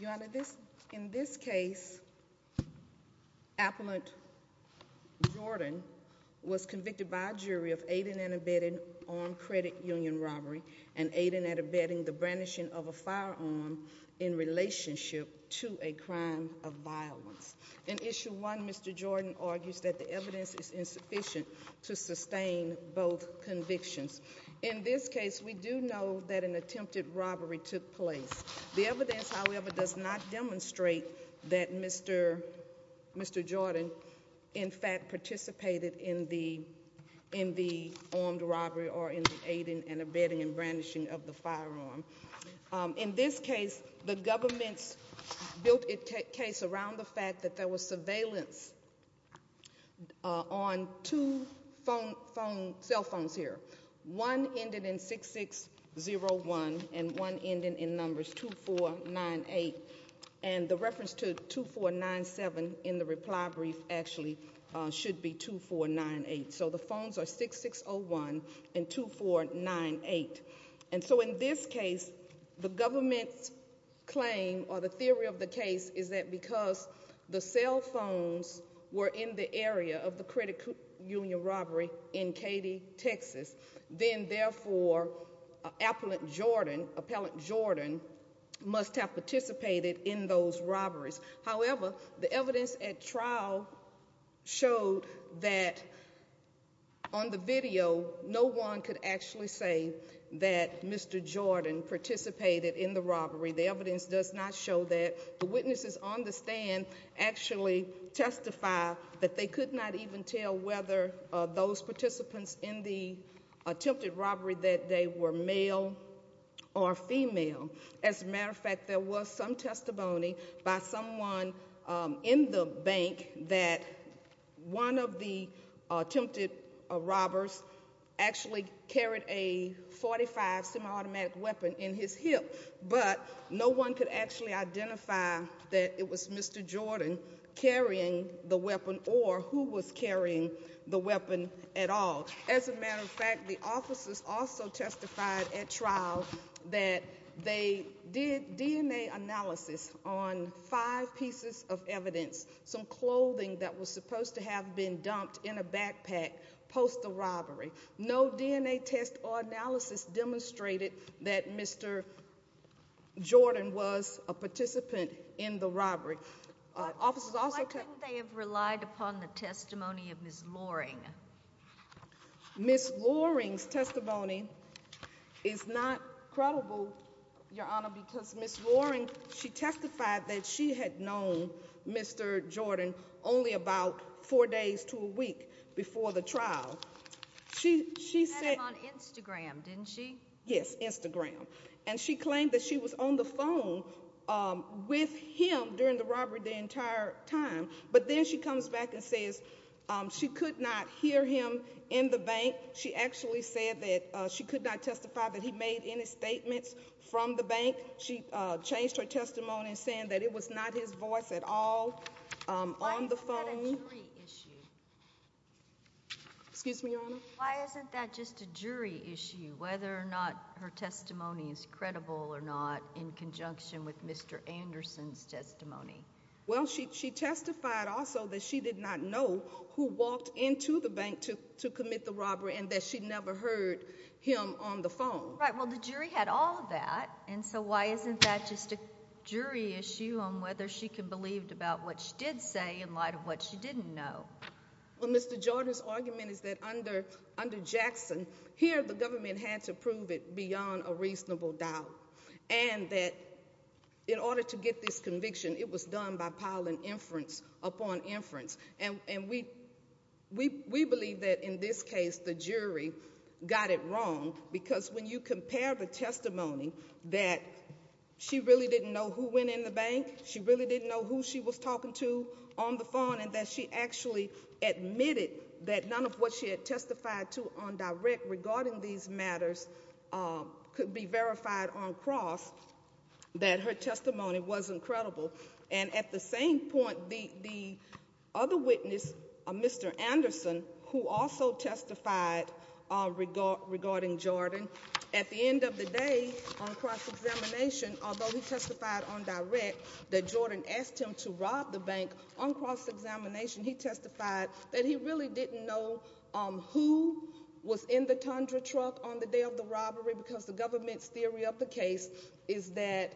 Your Honor, in this case, Appellant Jordan was convicted by a jury of aiding and abetting armed credit union robbery and aiding and abetting the brandishing of a firearm in relationship to a crime of violence. In Issue 1, Mr. Jordan argues that the evidence is insufficient to sustain both convictions. In this case, we do know that an attempted robbery took place. The evidence, however, does not demonstrate that Mr. Jordan in fact participated in the armed robbery or in the aiding and abetting and brandishing of the firearm. In this case, the government's built a case around the fact that there was surveillance on two cell phones here. One ended in 6601 and one ended in numbers 2498. And the reference to 2497 in the reply brief actually should be 2498. So the phones are 6601 and 2498. And so in this case, the government's claim or the theory of the case is that because the cell phones were in the area of the credit union robbery in Katy, Texas. Then therefore, Appellant Jordan must have participated in those robberies. However, the evidence at trial showed that on the video, no one could actually say that Mr. Jordan participated in the robbery. The evidence does not show that. The witnesses on the stand actually testify that they could not even tell whether those participants in the attempted robbery that day were male or female. As a matter of fact, there was some testimony by someone in the bank that one of the attempted robbers actually carried a 45 semi-automatic weapon in his hip. But no one could actually identify that it was Mr. Jordan carrying the weapon or who was carrying the weapon at all. As a matter of fact, the officers also testified at trial that they did DNA analysis on five pieces of evidence, some clothing that was supposed to have been dumped in a backpack post the robbery. No DNA test or analysis demonstrated that Mr. Jordan was a participant in the robbery. Officers also- Why couldn't they have relied upon the testimony of Ms. Loring? Ms. Loring's testimony is not credible, Your Honor, because Ms. Loring, she testified that she had known Mr. Jordan only about four days to a week before the trial. She said- She had him on Instagram, didn't she? Yes, Instagram. And she claimed that she was on the phone with him during the robbery the entire time. But then she comes back and says she could not hear him in the bank. She actually said that she could not testify that he made any statements from the bank. She changed her testimony saying that it was not his voice at all on the phone. Why is that a jury issue? Excuse me, Your Honor? Why isn't that just a jury issue, whether or not her testimony is credible or not in conjunction with Mr. Anderson's testimony? Well, she testified also that she did not know who walked into the bank to commit the robbery and that she never heard him on the phone. Right, well, the jury had all of that, and so why isn't that just a jury issue on whether she can believe about what she did say in light of what she didn't know? Well, Mr. Jordan's argument is that under Jackson, here the government had to prove it beyond a reasonable doubt. And that in order to get this conviction, it was done by piling inference upon inference. And we believe that in this case, the jury got it wrong, because when you compare the testimony that she really didn't know who went in the bank, she really didn't know who she was talking to on the phone, and that she actually admitted that none of what she had testified to on direct regarding these matters could be verified on cross. That her testimony was incredible. And at the same point, the other witness, Mr. Anderson, who also testified regarding Jordan, at the end of the day on cross-examination, although he testified on direct, that Jordan asked him to rob the bank, on cross-examination, he testified that he really didn't know who was in the Tundra truck on the day of the robbery. Because the government's theory of the case is that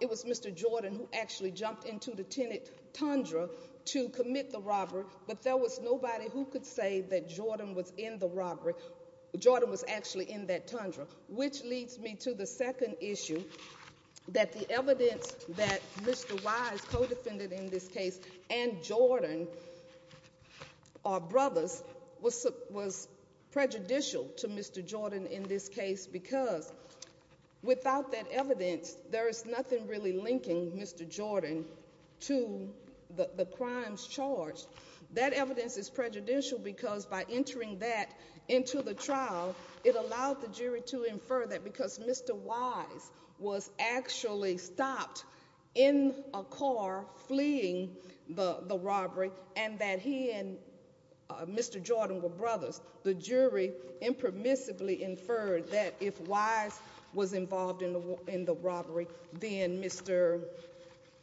it was Mr. Jordan who actually jumped into the tenant Tundra to commit the robbery. But there was nobody who could say that Jordan was in the robbery. Jordan was actually in that Tundra. Which leads me to the second issue, that the evidence that Mr. Wise co-defended in this case and Jordan, our brothers, was prejudicial to Mr. Jordan in this case because without that evidence, there is nothing really linking Mr. Jordan to the crimes charged. That evidence is prejudicial because by entering that into the trial, it allowed the jury to infer that because Mr. Wise was actually stopped in a car fleeing the robbery and that he and Mr. Jordan were brothers. The jury impermissibly inferred that if Wise was involved in the robbery, then Mr.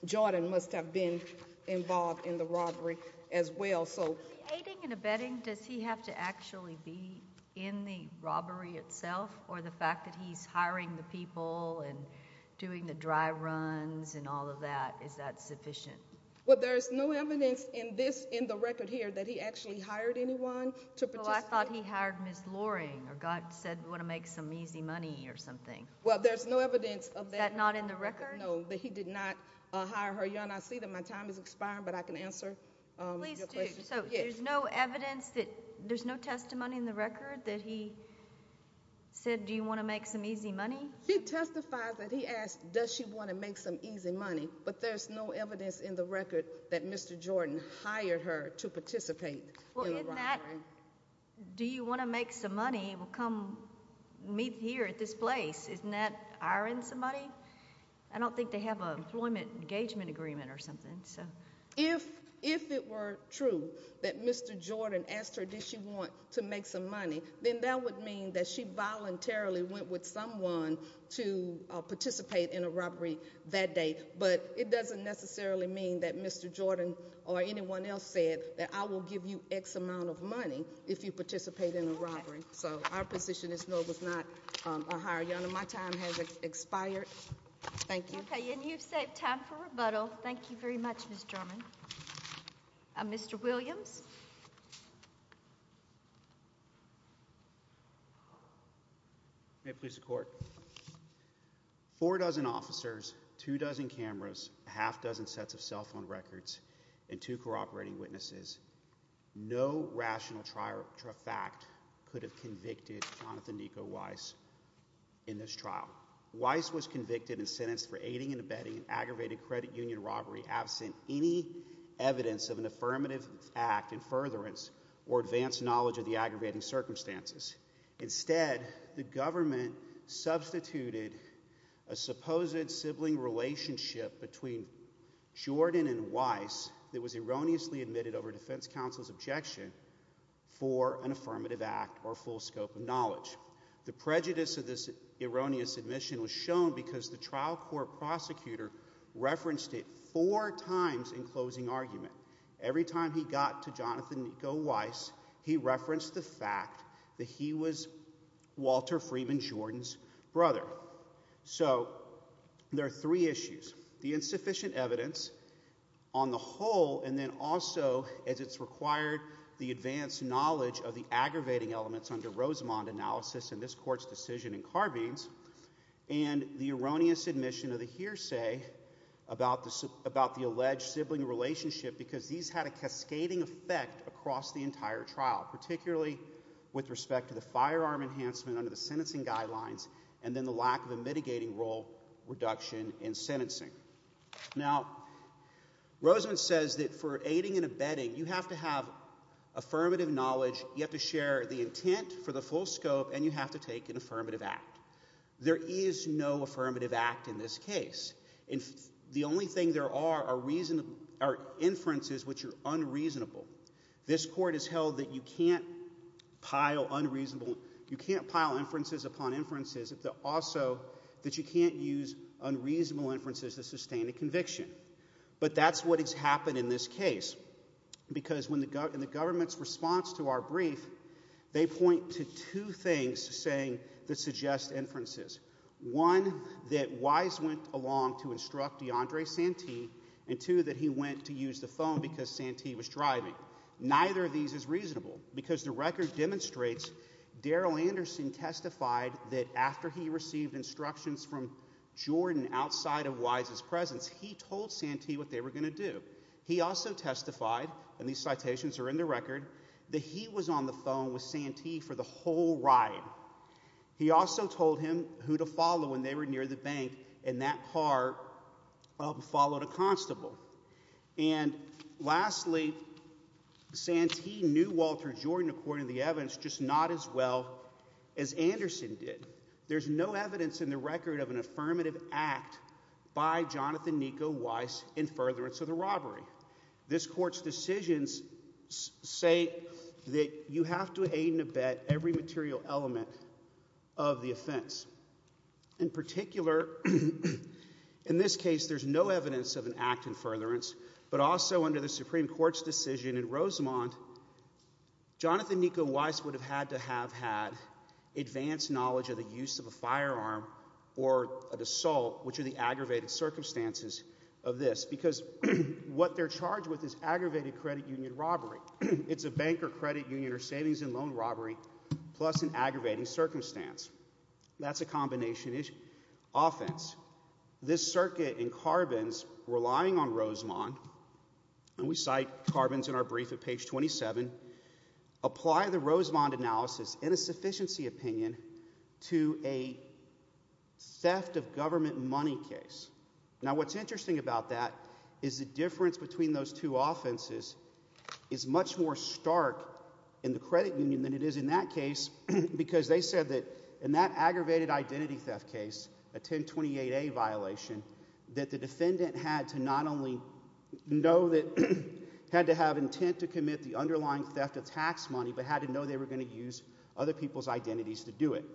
Jordan must have been involved in the robbery as well, so. Aiding and abetting, does he have to actually be in the robbery itself? Or the fact that he's hiring the people and doing the dry runs and all of that, is that sufficient? Well, there's no evidence in this, in the record here, that he actually hired anyone to participate. Well, I thought he hired Ms. Loring, or God said, want to make some easy money or something. Well, there's no evidence of that. Is that not in the record? No, but he did not hire her. Your Honor, I see that my time is expiring, but I can answer your questions. Please do. So, there's no evidence that, there's no testimony in the record that he said, do you want to make some easy money? He testifies that he asked, does she want to make some easy money? But there's no evidence in the record that Mr. Jordan hired her to participate in the robbery. Well, isn't that, do you want to make some money? Well, come meet here at this place. Isn't that hiring somebody? I don't think they have a employment engagement agreement or something, so. If it were true that Mr. Jordan asked her, did she want to make some money, then that would mean that she voluntarily went with someone to participate in a robbery that day. But it doesn't necessarily mean that Mr. Jordan or anyone else said that I will give you X amount of money if you participate in a robbery. So, our position is no, it was not a hire. Your Honor, my time has expired. Thank you. Okay, and you've saved time for rebuttal. Thank you very much, Ms. Drummond. Mr. Williams. May it please the court. Four dozen officers, two dozen cameras, half dozen sets of cell phone records, and two cooperating witnesses. No rational fact could have convicted Jonathan Nico Weiss in this trial. Weiss was convicted and sentenced for aiding and abetting an aggravated credit union robbery absent any evidence of an affirmative act in furtherance or advanced knowledge of the aggravating circumstances. Instead, the government substituted a supposed sibling relationship between Jordan and the defense counsel's objection for an affirmative act or full scope of knowledge. The prejudice of this erroneous admission was shown because the trial court prosecutor referenced it four times in closing argument. Every time he got to Jonathan Nico Weiss, he referenced the fact that he was Walter Freeman Jordan's brother. So, there are three issues. The insufficient evidence on the whole and then also as it's required the advanced knowledge of the aggravating elements under Rosamond analysis in this court's decision in Carbines. And the erroneous admission of the hearsay about the alleged sibling relationship, because these had a cascading effect across the entire trial, particularly with respect to the firearm enhancement under the sentencing guidelines. And then the lack of a mitigating role reduction in sentencing. Now, Rosamond says that for aiding and abetting, you have to have affirmative knowledge, you have to share the intent for the full scope, and you have to take an affirmative act. There is no affirmative act in this case. And the only thing there are are inferences which are unreasonable. This court has held that you can't pile inferences upon inferences, but also that you can't use unreasonable inferences to sustain a conviction. But that's what has happened in this case. Because in the government's response to our brief, they point to two things that suggest inferences. One, that Weiss went along to instruct DeAndre Santee, and two, that he went to use the phone because Santee was driving. Neither of these is reasonable, because the record demonstrates Daryl Anderson testified that after he received instructions from Jordan outside of Weiss's presence, he told Santee what they were going to do. He also testified, and these citations are in the record, that he was on the phone with Santee for the whole ride. He also told him who to follow when they were near the bank, and that car followed a constable. And lastly, Santee knew Walter Jordan, according to the evidence, just not as well as Anderson did. There's no evidence in the record of an affirmative act by Jonathan Nico Weiss in furtherance of the robbery. This court's decisions say that you have to aid and abet every material element of the offense. In particular, in this case, there's no evidence of an act in furtherance. But also under the Supreme Court's decision in Rosemont, Jonathan Nico Weiss would have had to have had advanced knowledge of the use of a firearm or an assault, which are the aggravated circumstances of this. Because what they're charged with is aggravated credit union robbery. It's a bank or credit union or savings and loan robbery, plus an aggravating circumstance. That's a combination issue. Offense. This circuit in Carbons, relying on Rosemont, and we cite Carbons in our brief at page 27. Apply the Rosemont analysis in a sufficiency opinion to a theft of government money case. Now what's interesting about that is the difference between those two offenses is much more stark in the credit union than it is in that case. Because they said that in that aggravated identity theft case, a 1028A violation, that the defendant had to not only know that, had to have intent to commit the underlying theft of tax money. But had to know they were going to use other people's identities to do it.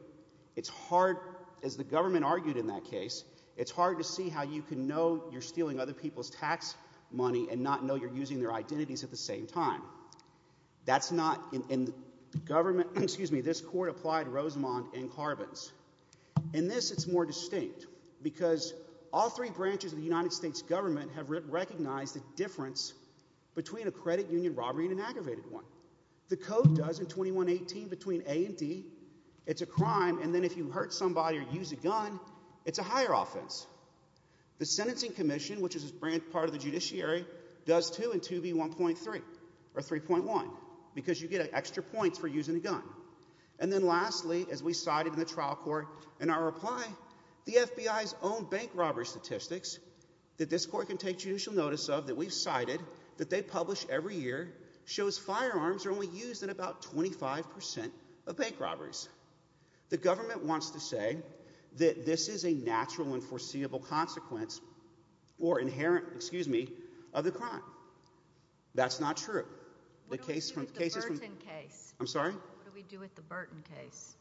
It's hard, as the government argued in that case, it's hard to see how you can know you're stealing other people's tax money and not know you're using their identities at the same time. That's not in the government, excuse me, this court applied Rosemont and Carbons. In this, it's more distinct. Because all three branches of the United States government have recognized the difference between a credit union robbery and an aggravated one. The code does in 2118 between A and D, it's a crime and then if you hurt somebody or use a gun, it's a higher offense. The sentencing commission, which is a branch part of the judiciary, does two and two be 1.3 or 3.1. Because you get extra points for using a gun. And then lastly, as we cited in the trial court, in our reply, the FBI's own bank robbery statistics that this court can take judicial notice of, that we've cited, that they publish every year, shows firearms are only used in about 25% of bank robberies. The government wants to say that this is a natural and foreseeable consequence or inherent, excuse me, of the crime. That's not true. The case from- What do we do with the Burton case? I'm sorry? What do we do with the Burton case?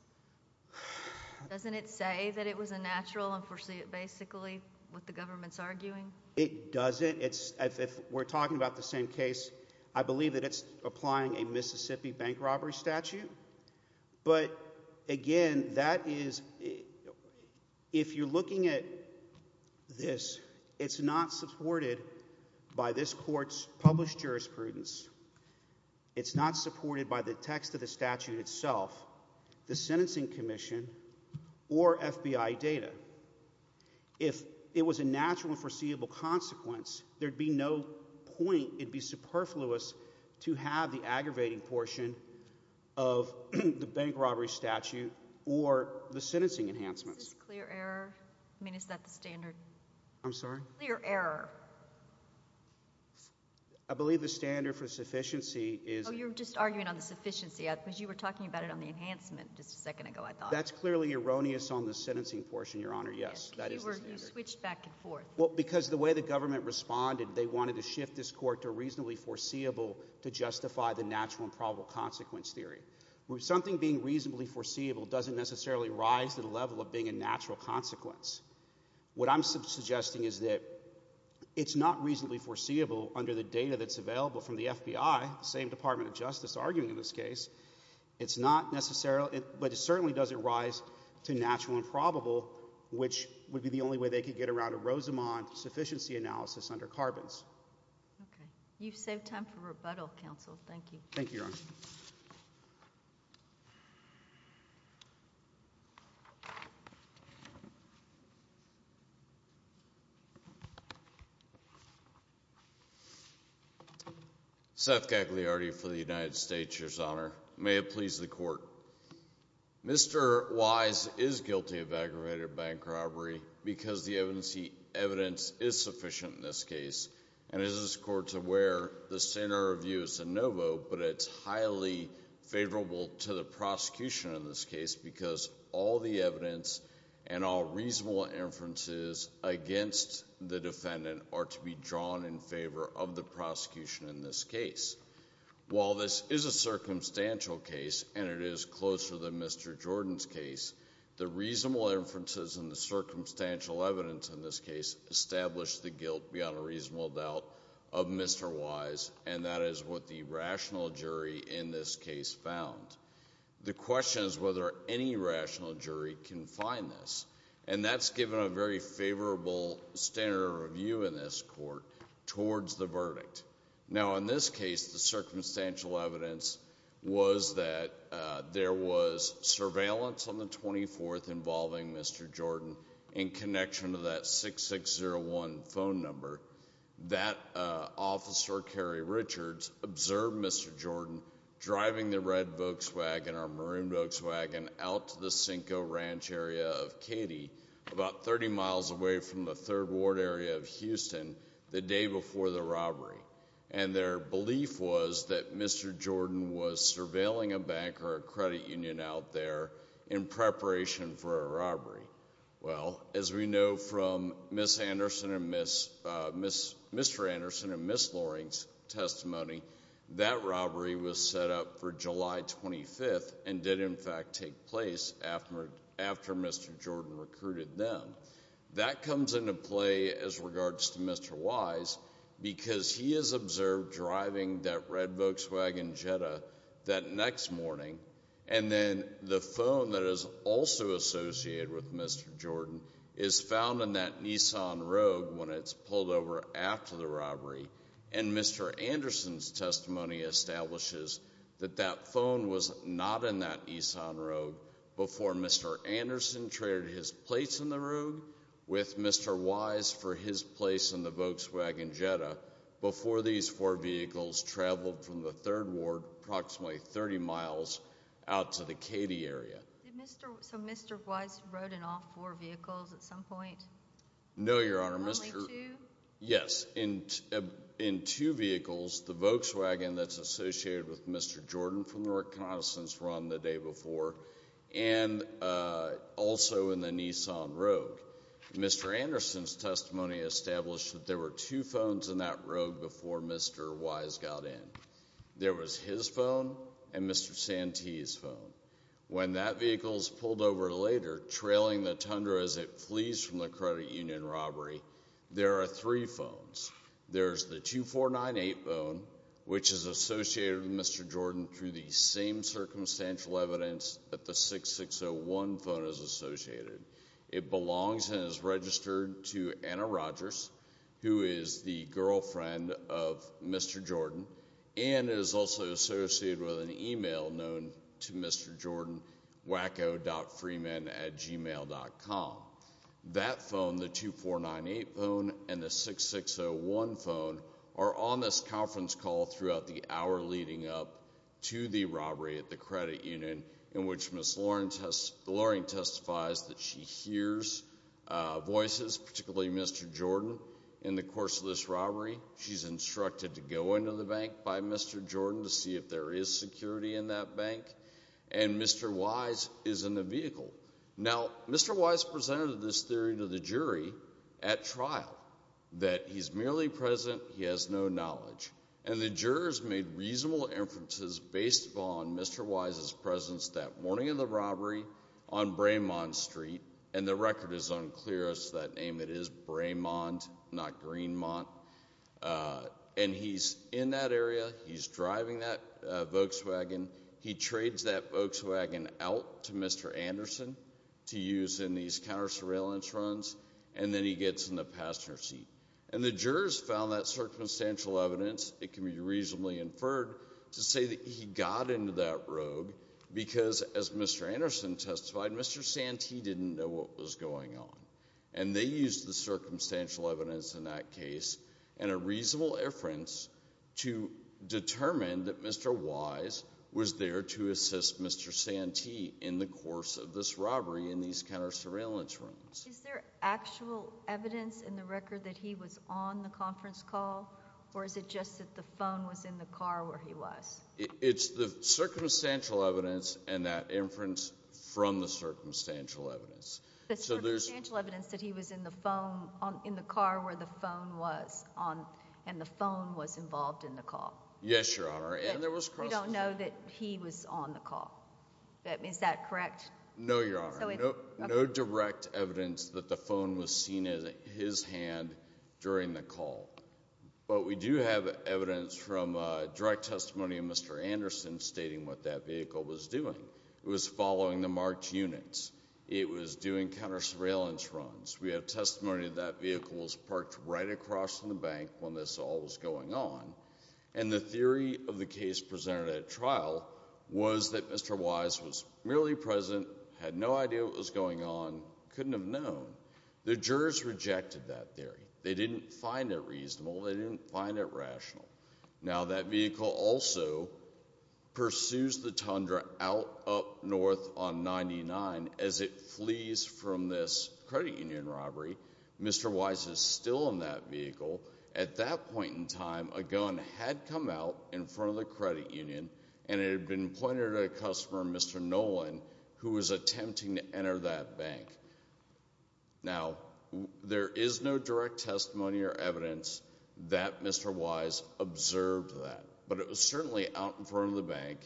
Doesn't it say that it was a natural and foreseeable, basically, what the government's arguing? It doesn't. If we're talking about the same case, I believe that it's applying a Mississippi bank robbery statute. But again, that is, if you're looking at this, it's not supported by this court's published jurisprudence. It's not supported by the text of the statute itself. The sentencing commission or FBI data. If it was a natural and foreseeable consequence, there'd be no point, it'd be superfluous to have the aggravating portion of the bank robbery statute or the sentencing enhancements. Is this clear error? I mean, is that the standard? I'm sorry? Clear error. I believe the standard for sufficiency is- You're just arguing on the sufficiency, because you were talking about it on the enhancement just a second ago, I thought. That's clearly erroneous on the sentencing portion, Your Honor, yes. You switched back and forth. Well, because the way the government responded, they wanted to shift this court to reasonably foreseeable to justify the natural and probable consequence theory. Something being reasonably foreseeable doesn't necessarily rise to the level of being a natural consequence. What I'm suggesting is that it's not reasonably foreseeable under the data that's available from the FBI, the same Department of Justice arguing in this case. It's not necessarily, but it certainly doesn't rise to natural and probable, which would be the only way they could get around a Rosamond sufficiency analysis under carbons. You've saved time for rebuttal, counsel. Thank you. Thank you, Your Honor. Seth Gagliardi for the United States, Your Honor. May it please the court. Mr. Wise is guilty of aggravated bank robbery because the evidence is sufficient in this case. And as this court's aware, the standard of review is a no vote, but it's highly favorable to the prosecution in this case, because all the evidence and all reasonable inferences against the defendant are to be drawn in favor of the prosecution in this case. While this is a circumstantial case, and it is closer than Mr. Jordan's case, the reasonable inferences and the circumstantial evidence in this case establish the guilt beyond a reasonable doubt of Mr. Wise. And that is what the rational jury in this case found. The question is whether any rational jury can find this. And that's given a very favorable standard of review in this court towards the verdict. Now, in this case, the circumstantial evidence was that there was surveillance on the 24th involving Mr. Jordan in connection to that 6601 phone number. That officer, Kerry Richards, observed Mr. Jordan driving the red Volkswagen or maroon Volkswagen out to the Cinco Ranch area of Katy, about 30 miles away from the third ward area of Houston the day before the robbery. And their belief was that Mr. Jordan was surveilling a bank or a credit union out there in preparation for a robbery. Well, as we know from Mr. Anderson and Ms. Loring's testimony, that robbery was set up for July 25th and did, in fact, take place after Mr. Jordan recruited them. That comes into play as regards to Mr. Wise because he has observed driving that red Volkswagen Jetta that next morning and then the phone that is also associated with Mr. Jordan is found in that Nissan Rogue when it's pulled over after the robbery. And Mr. Anderson's testimony establishes that that phone was not in that Nissan Rogue before Mr. Anderson traded his place in the Rogue with Mr. Wise for his place in the Volkswagen Jetta before these four vehicles traveled from the third ward approximately 30 miles out to the Katy area. So Mr. Wise rode in all four vehicles at some point? No, Your Honor. Only two? Yes, in two vehicles, the Volkswagen that's associated with Mr. Jordan from the reconnaissance run the day before, and also in the Nissan Rogue. Mr. Anderson's testimony established that there were two phones in that Rogue before Mr. Wise got in, there was his phone and Mr. Santee's phone. When that vehicle's pulled over later, trailing the tundra as it flees from the credit union robbery, there are three phones. There's the 2498 phone, which is associated with Mr. Jordan through the same circumstantial evidence that the 6601 phone is associated. It belongs and is registered to Anna Rogers, who is the girlfriend of Mr. Jordan, and is also associated with an email known to Mr. Jordan, wacko.freeman at gmail.com. That phone, the 2498 phone, and the 6601 phone are on this conference call throughout the hour leading up to the robbery at the credit union, in which Ms. Loring testifies that she hears voices, particularly Mr. Jordan, in the course of this robbery. She's instructed to go into the bank by Mr. Jordan to see if there is security in that bank, and Mr. Wise is in the vehicle. Now, Mr. Wise presented this theory to the jury at trial, that he's merely present, he has no knowledge. And the jurors made reasonable inferences based upon Mr. Wise's presence that morning in the robbery on Braymont Street, and the record is unclear as to that name. It is Braymont, not Greenmont, and he's in that area, he's driving that Volkswagen. He trades that Volkswagen out to Mr. Anderson to use in these counter surveillance runs, and then he gets in the passenger seat. And the jurors found that circumstantial evidence, it can be reasonably inferred, to say that he got into that rogue, because as Mr. Anderson testified, Mr. Santee didn't know what was going on. And they used the circumstantial evidence in that case, and a reasonable inference to determine that Mr. Wise was there to assist Mr. Santee in the course of this robbery in these counter surveillance runs. Is there actual evidence in the record that he was on the conference call, or is it just that the phone was in the car where he was? It's the circumstantial evidence, and that inference from the circumstantial evidence. The circumstantial evidence that he was in the phone, in the car where the phone was, and the phone was involved in the call. Yes, Your Honor, and there was- We don't know that he was on the call, is that correct? No, Your Honor, no direct evidence that the phone was seen in his hand during the call. But we do have evidence from direct testimony of Mr. Anderson stating what that vehicle was doing. It was following the marked units. It was doing counter surveillance runs. We have testimony that vehicle was parked right across from the bank when this all was that Mr. Wise was merely present, had no idea what was going on, couldn't have known. The jurors rejected that theory. They didn't find it reasonable. They didn't find it rational. Now, that vehicle also pursues the Tundra out up north on 99 as it flees from this credit union robbery. Mr. Wise is still in that vehicle. At that point in time, a gun had come out in front of the credit union, and it had been pointed at a customer, Mr. Nolan, who was attempting to enter that bank. Now, there is no direct testimony or evidence that Mr. Wise observed that. But it was certainly out in front of the bank,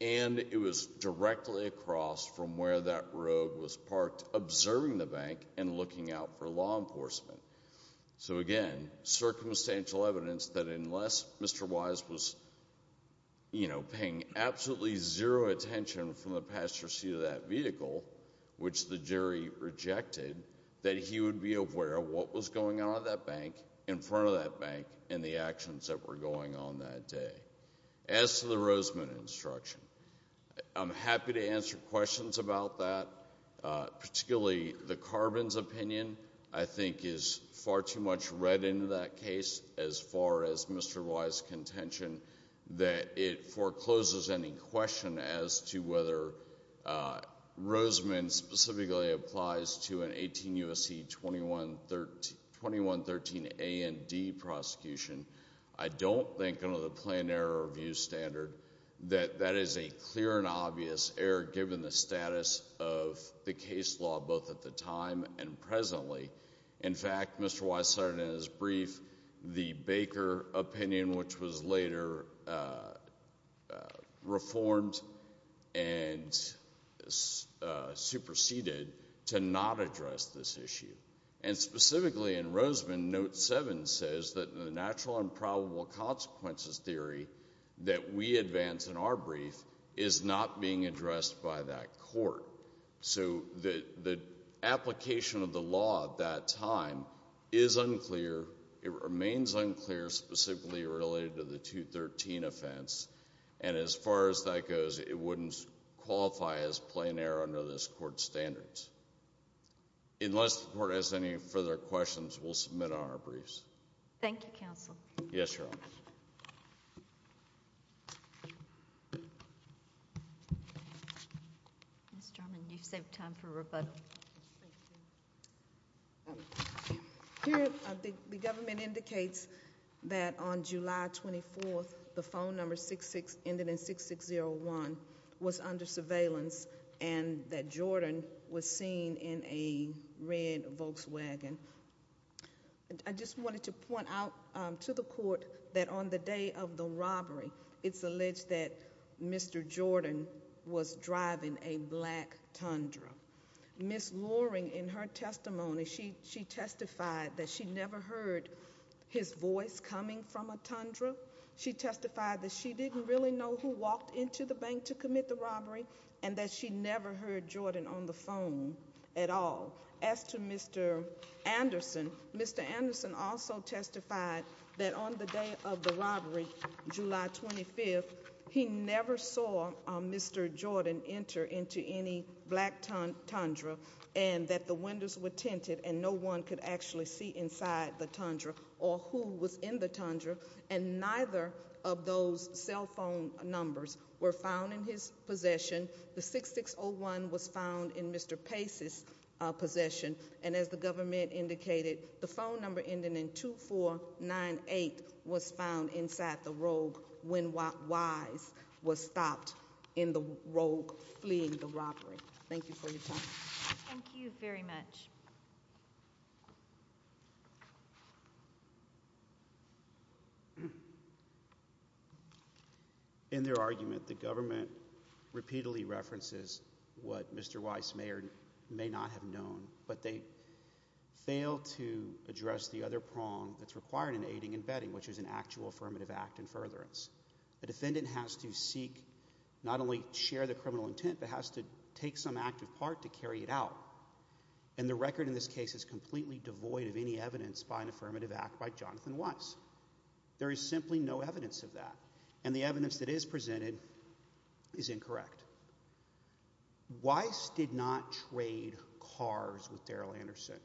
and it was directly across from where that road was parked, observing the bank and looking out for law enforcement. So again, circumstantial evidence that unless Mr. Wise was paying absolutely zero attention from the passenger seat of that vehicle, which the jury rejected, that he would be aware of what was going on at that bank, in front of that bank, and the actions that were going on that day. As to the Roseman instruction, I'm happy to answer questions about that. Particularly, the Carbons' opinion, I think, is far too much read into that case, as far as Mr. Wise' contention, that it forecloses any question as to whether Roseman specifically applies to an 18 U.S.C. 2113 A and D prosecution. I don't think, under the planned error review standard, that that is a clear and fair case law, both at the time and presently. In fact, Mr. Wise cited in his brief the Baker opinion, which was later reformed and superseded to not address this issue. And specifically in Roseman, note seven says that the natural and probable consequences theory that we advance in our brief is not being addressed by that court. So the application of the law at that time is unclear. It remains unclear, specifically related to the 213 offense. And as far as that goes, it wouldn't qualify as planned error under this court's standards. Unless the court has any further questions, we'll submit on our briefs. Thank you, counsel. Yes, Your Honor. Ms. Drummond, you've saved time for rebuttal. Thank you. Here, the government indicates that on July 24th, the phone number 66, ended in 6601, was under surveillance. And that Jordan was seen in a red Volkswagen. I just wanted to point out to the court that on the day of the robbery, it's alleged that Mr. Jordan was driving a black Tundra. Ms. Loring, in her testimony, she testified that she never heard his voice coming from a Tundra. She testified that she didn't really know who walked into the bank to commit the robbery, and that she never heard Jordan on the phone at all. As to Mr. Anderson, Mr. Anderson also testified that on the day of the robbery, July 25th, he never saw Mr. Jordan enter into any black Tundra. And that the windows were tinted, and no one could actually see inside the Tundra, or who was in the Tundra. And neither of those cell phone numbers were found in his possession. The 6601 was found in Mr. Pace's possession. And as the government indicated, the phone number ending in 2498 was found inside the rogue, when Wise was stopped in the rogue fleeing the robbery. Thank you for your time. Thank you very much. In their argument, the government repeatedly references what Mr. Wise may or may not have known, but they failed to address the other prong that's required in aiding and bedding, which is an actual affirmative act in furtherance. A defendant has to seek, not only share the criminal intent, but has to take some active part to carry it out. And the record in this case is completely devoid of any evidence by an affirmative act by Jonathan Wise. There is simply no evidence of that. And the evidence that is presented is incorrect. Wise did not trade cars with Daryl Anderson.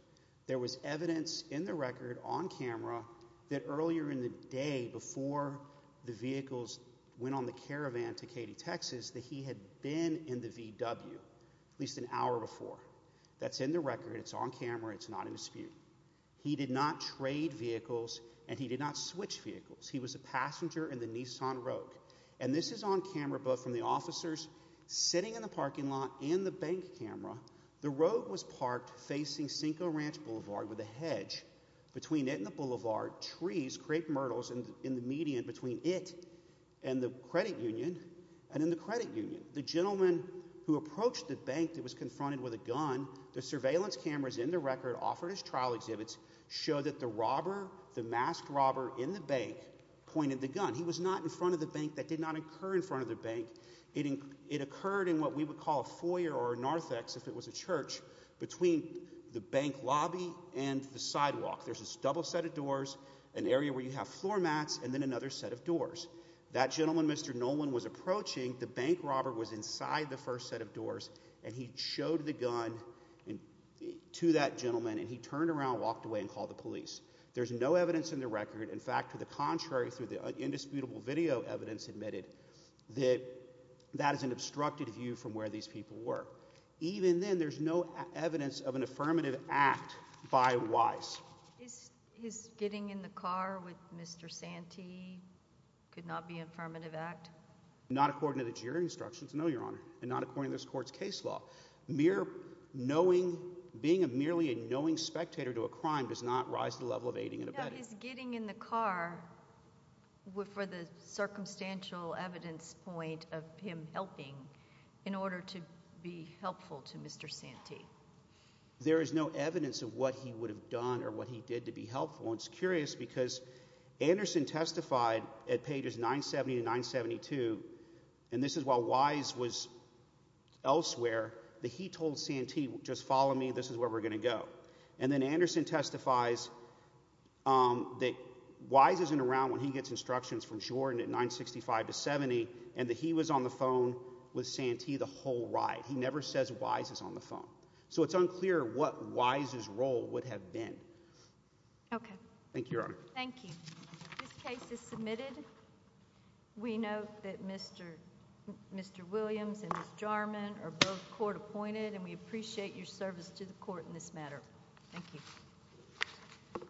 There was evidence in the record on camera that earlier in the day, before the vehicles went on the caravan to Katy, Texas, that he had been in the VW at least an hour before. That's in the record, it's on camera, it's not in dispute. He did not trade vehicles, and he did not switch vehicles. He was a passenger in the Nissan Rogue. And this is on camera both from the officers sitting in the parking lot and the bank camera. The Rogue was parked facing Cinco Ranch Boulevard with a hedge between it and the boulevard, trees, crepe myrtles in the median between it and the credit union, and in the credit union, the gentleman who approached the bank that was confronted with a gun. The surveillance cameras in the record offered as trial exhibits show that the robber, the masked robber in the bank, pointed the gun. He was not in front of the bank, that did not occur in front of the bank. It occurred in what we would call a foyer or a narthex if it was a church between the bank lobby and the sidewalk. There's this double set of doors, an area where you have floor mats, and then another set of doors. That gentleman, Mr. Nolan, was approaching, the bank robber was inside the first set of doors, and he showed the gun to that gentleman, and he turned around, walked away, and called the police. There's no evidence in the record, in fact, to the contrary, through the indisputable video evidence admitted, that that is an obstructed view from where these people were. Even then, there's no evidence of an affirmative act by Wise. Is his getting in the car with Mr. Santee could not be an affirmative act? Not according to the jury instructions, no, Your Honor, and not according to this court's case law. Mere knowing, being merely a knowing spectator to a crime does not rise to the level of aiding and abetting. Now, is getting in the car, for the circumstantial evidence point of him helping, in order to be helpful to Mr. Santee? There is no evidence of what he would have done, or what he did to be helpful. It's curious, because Anderson testified at pages 970 to 972, and this is while Wise was elsewhere, that he told Santee, just follow me, this is where we're going to go. And then Anderson testifies that Wise isn't around when he gets instructions from Jordan at 965 to 70, and that he was on the phone with Santee the whole ride. He never says Wise is on the phone. So it's unclear what Wise's role would have been. Thank you, Your Honor. Thank you. This case is submitted. We note that Mr. Williams and Ms. Jarman are both court appointed, and we appreciate your service to the court in this matter. Thank you.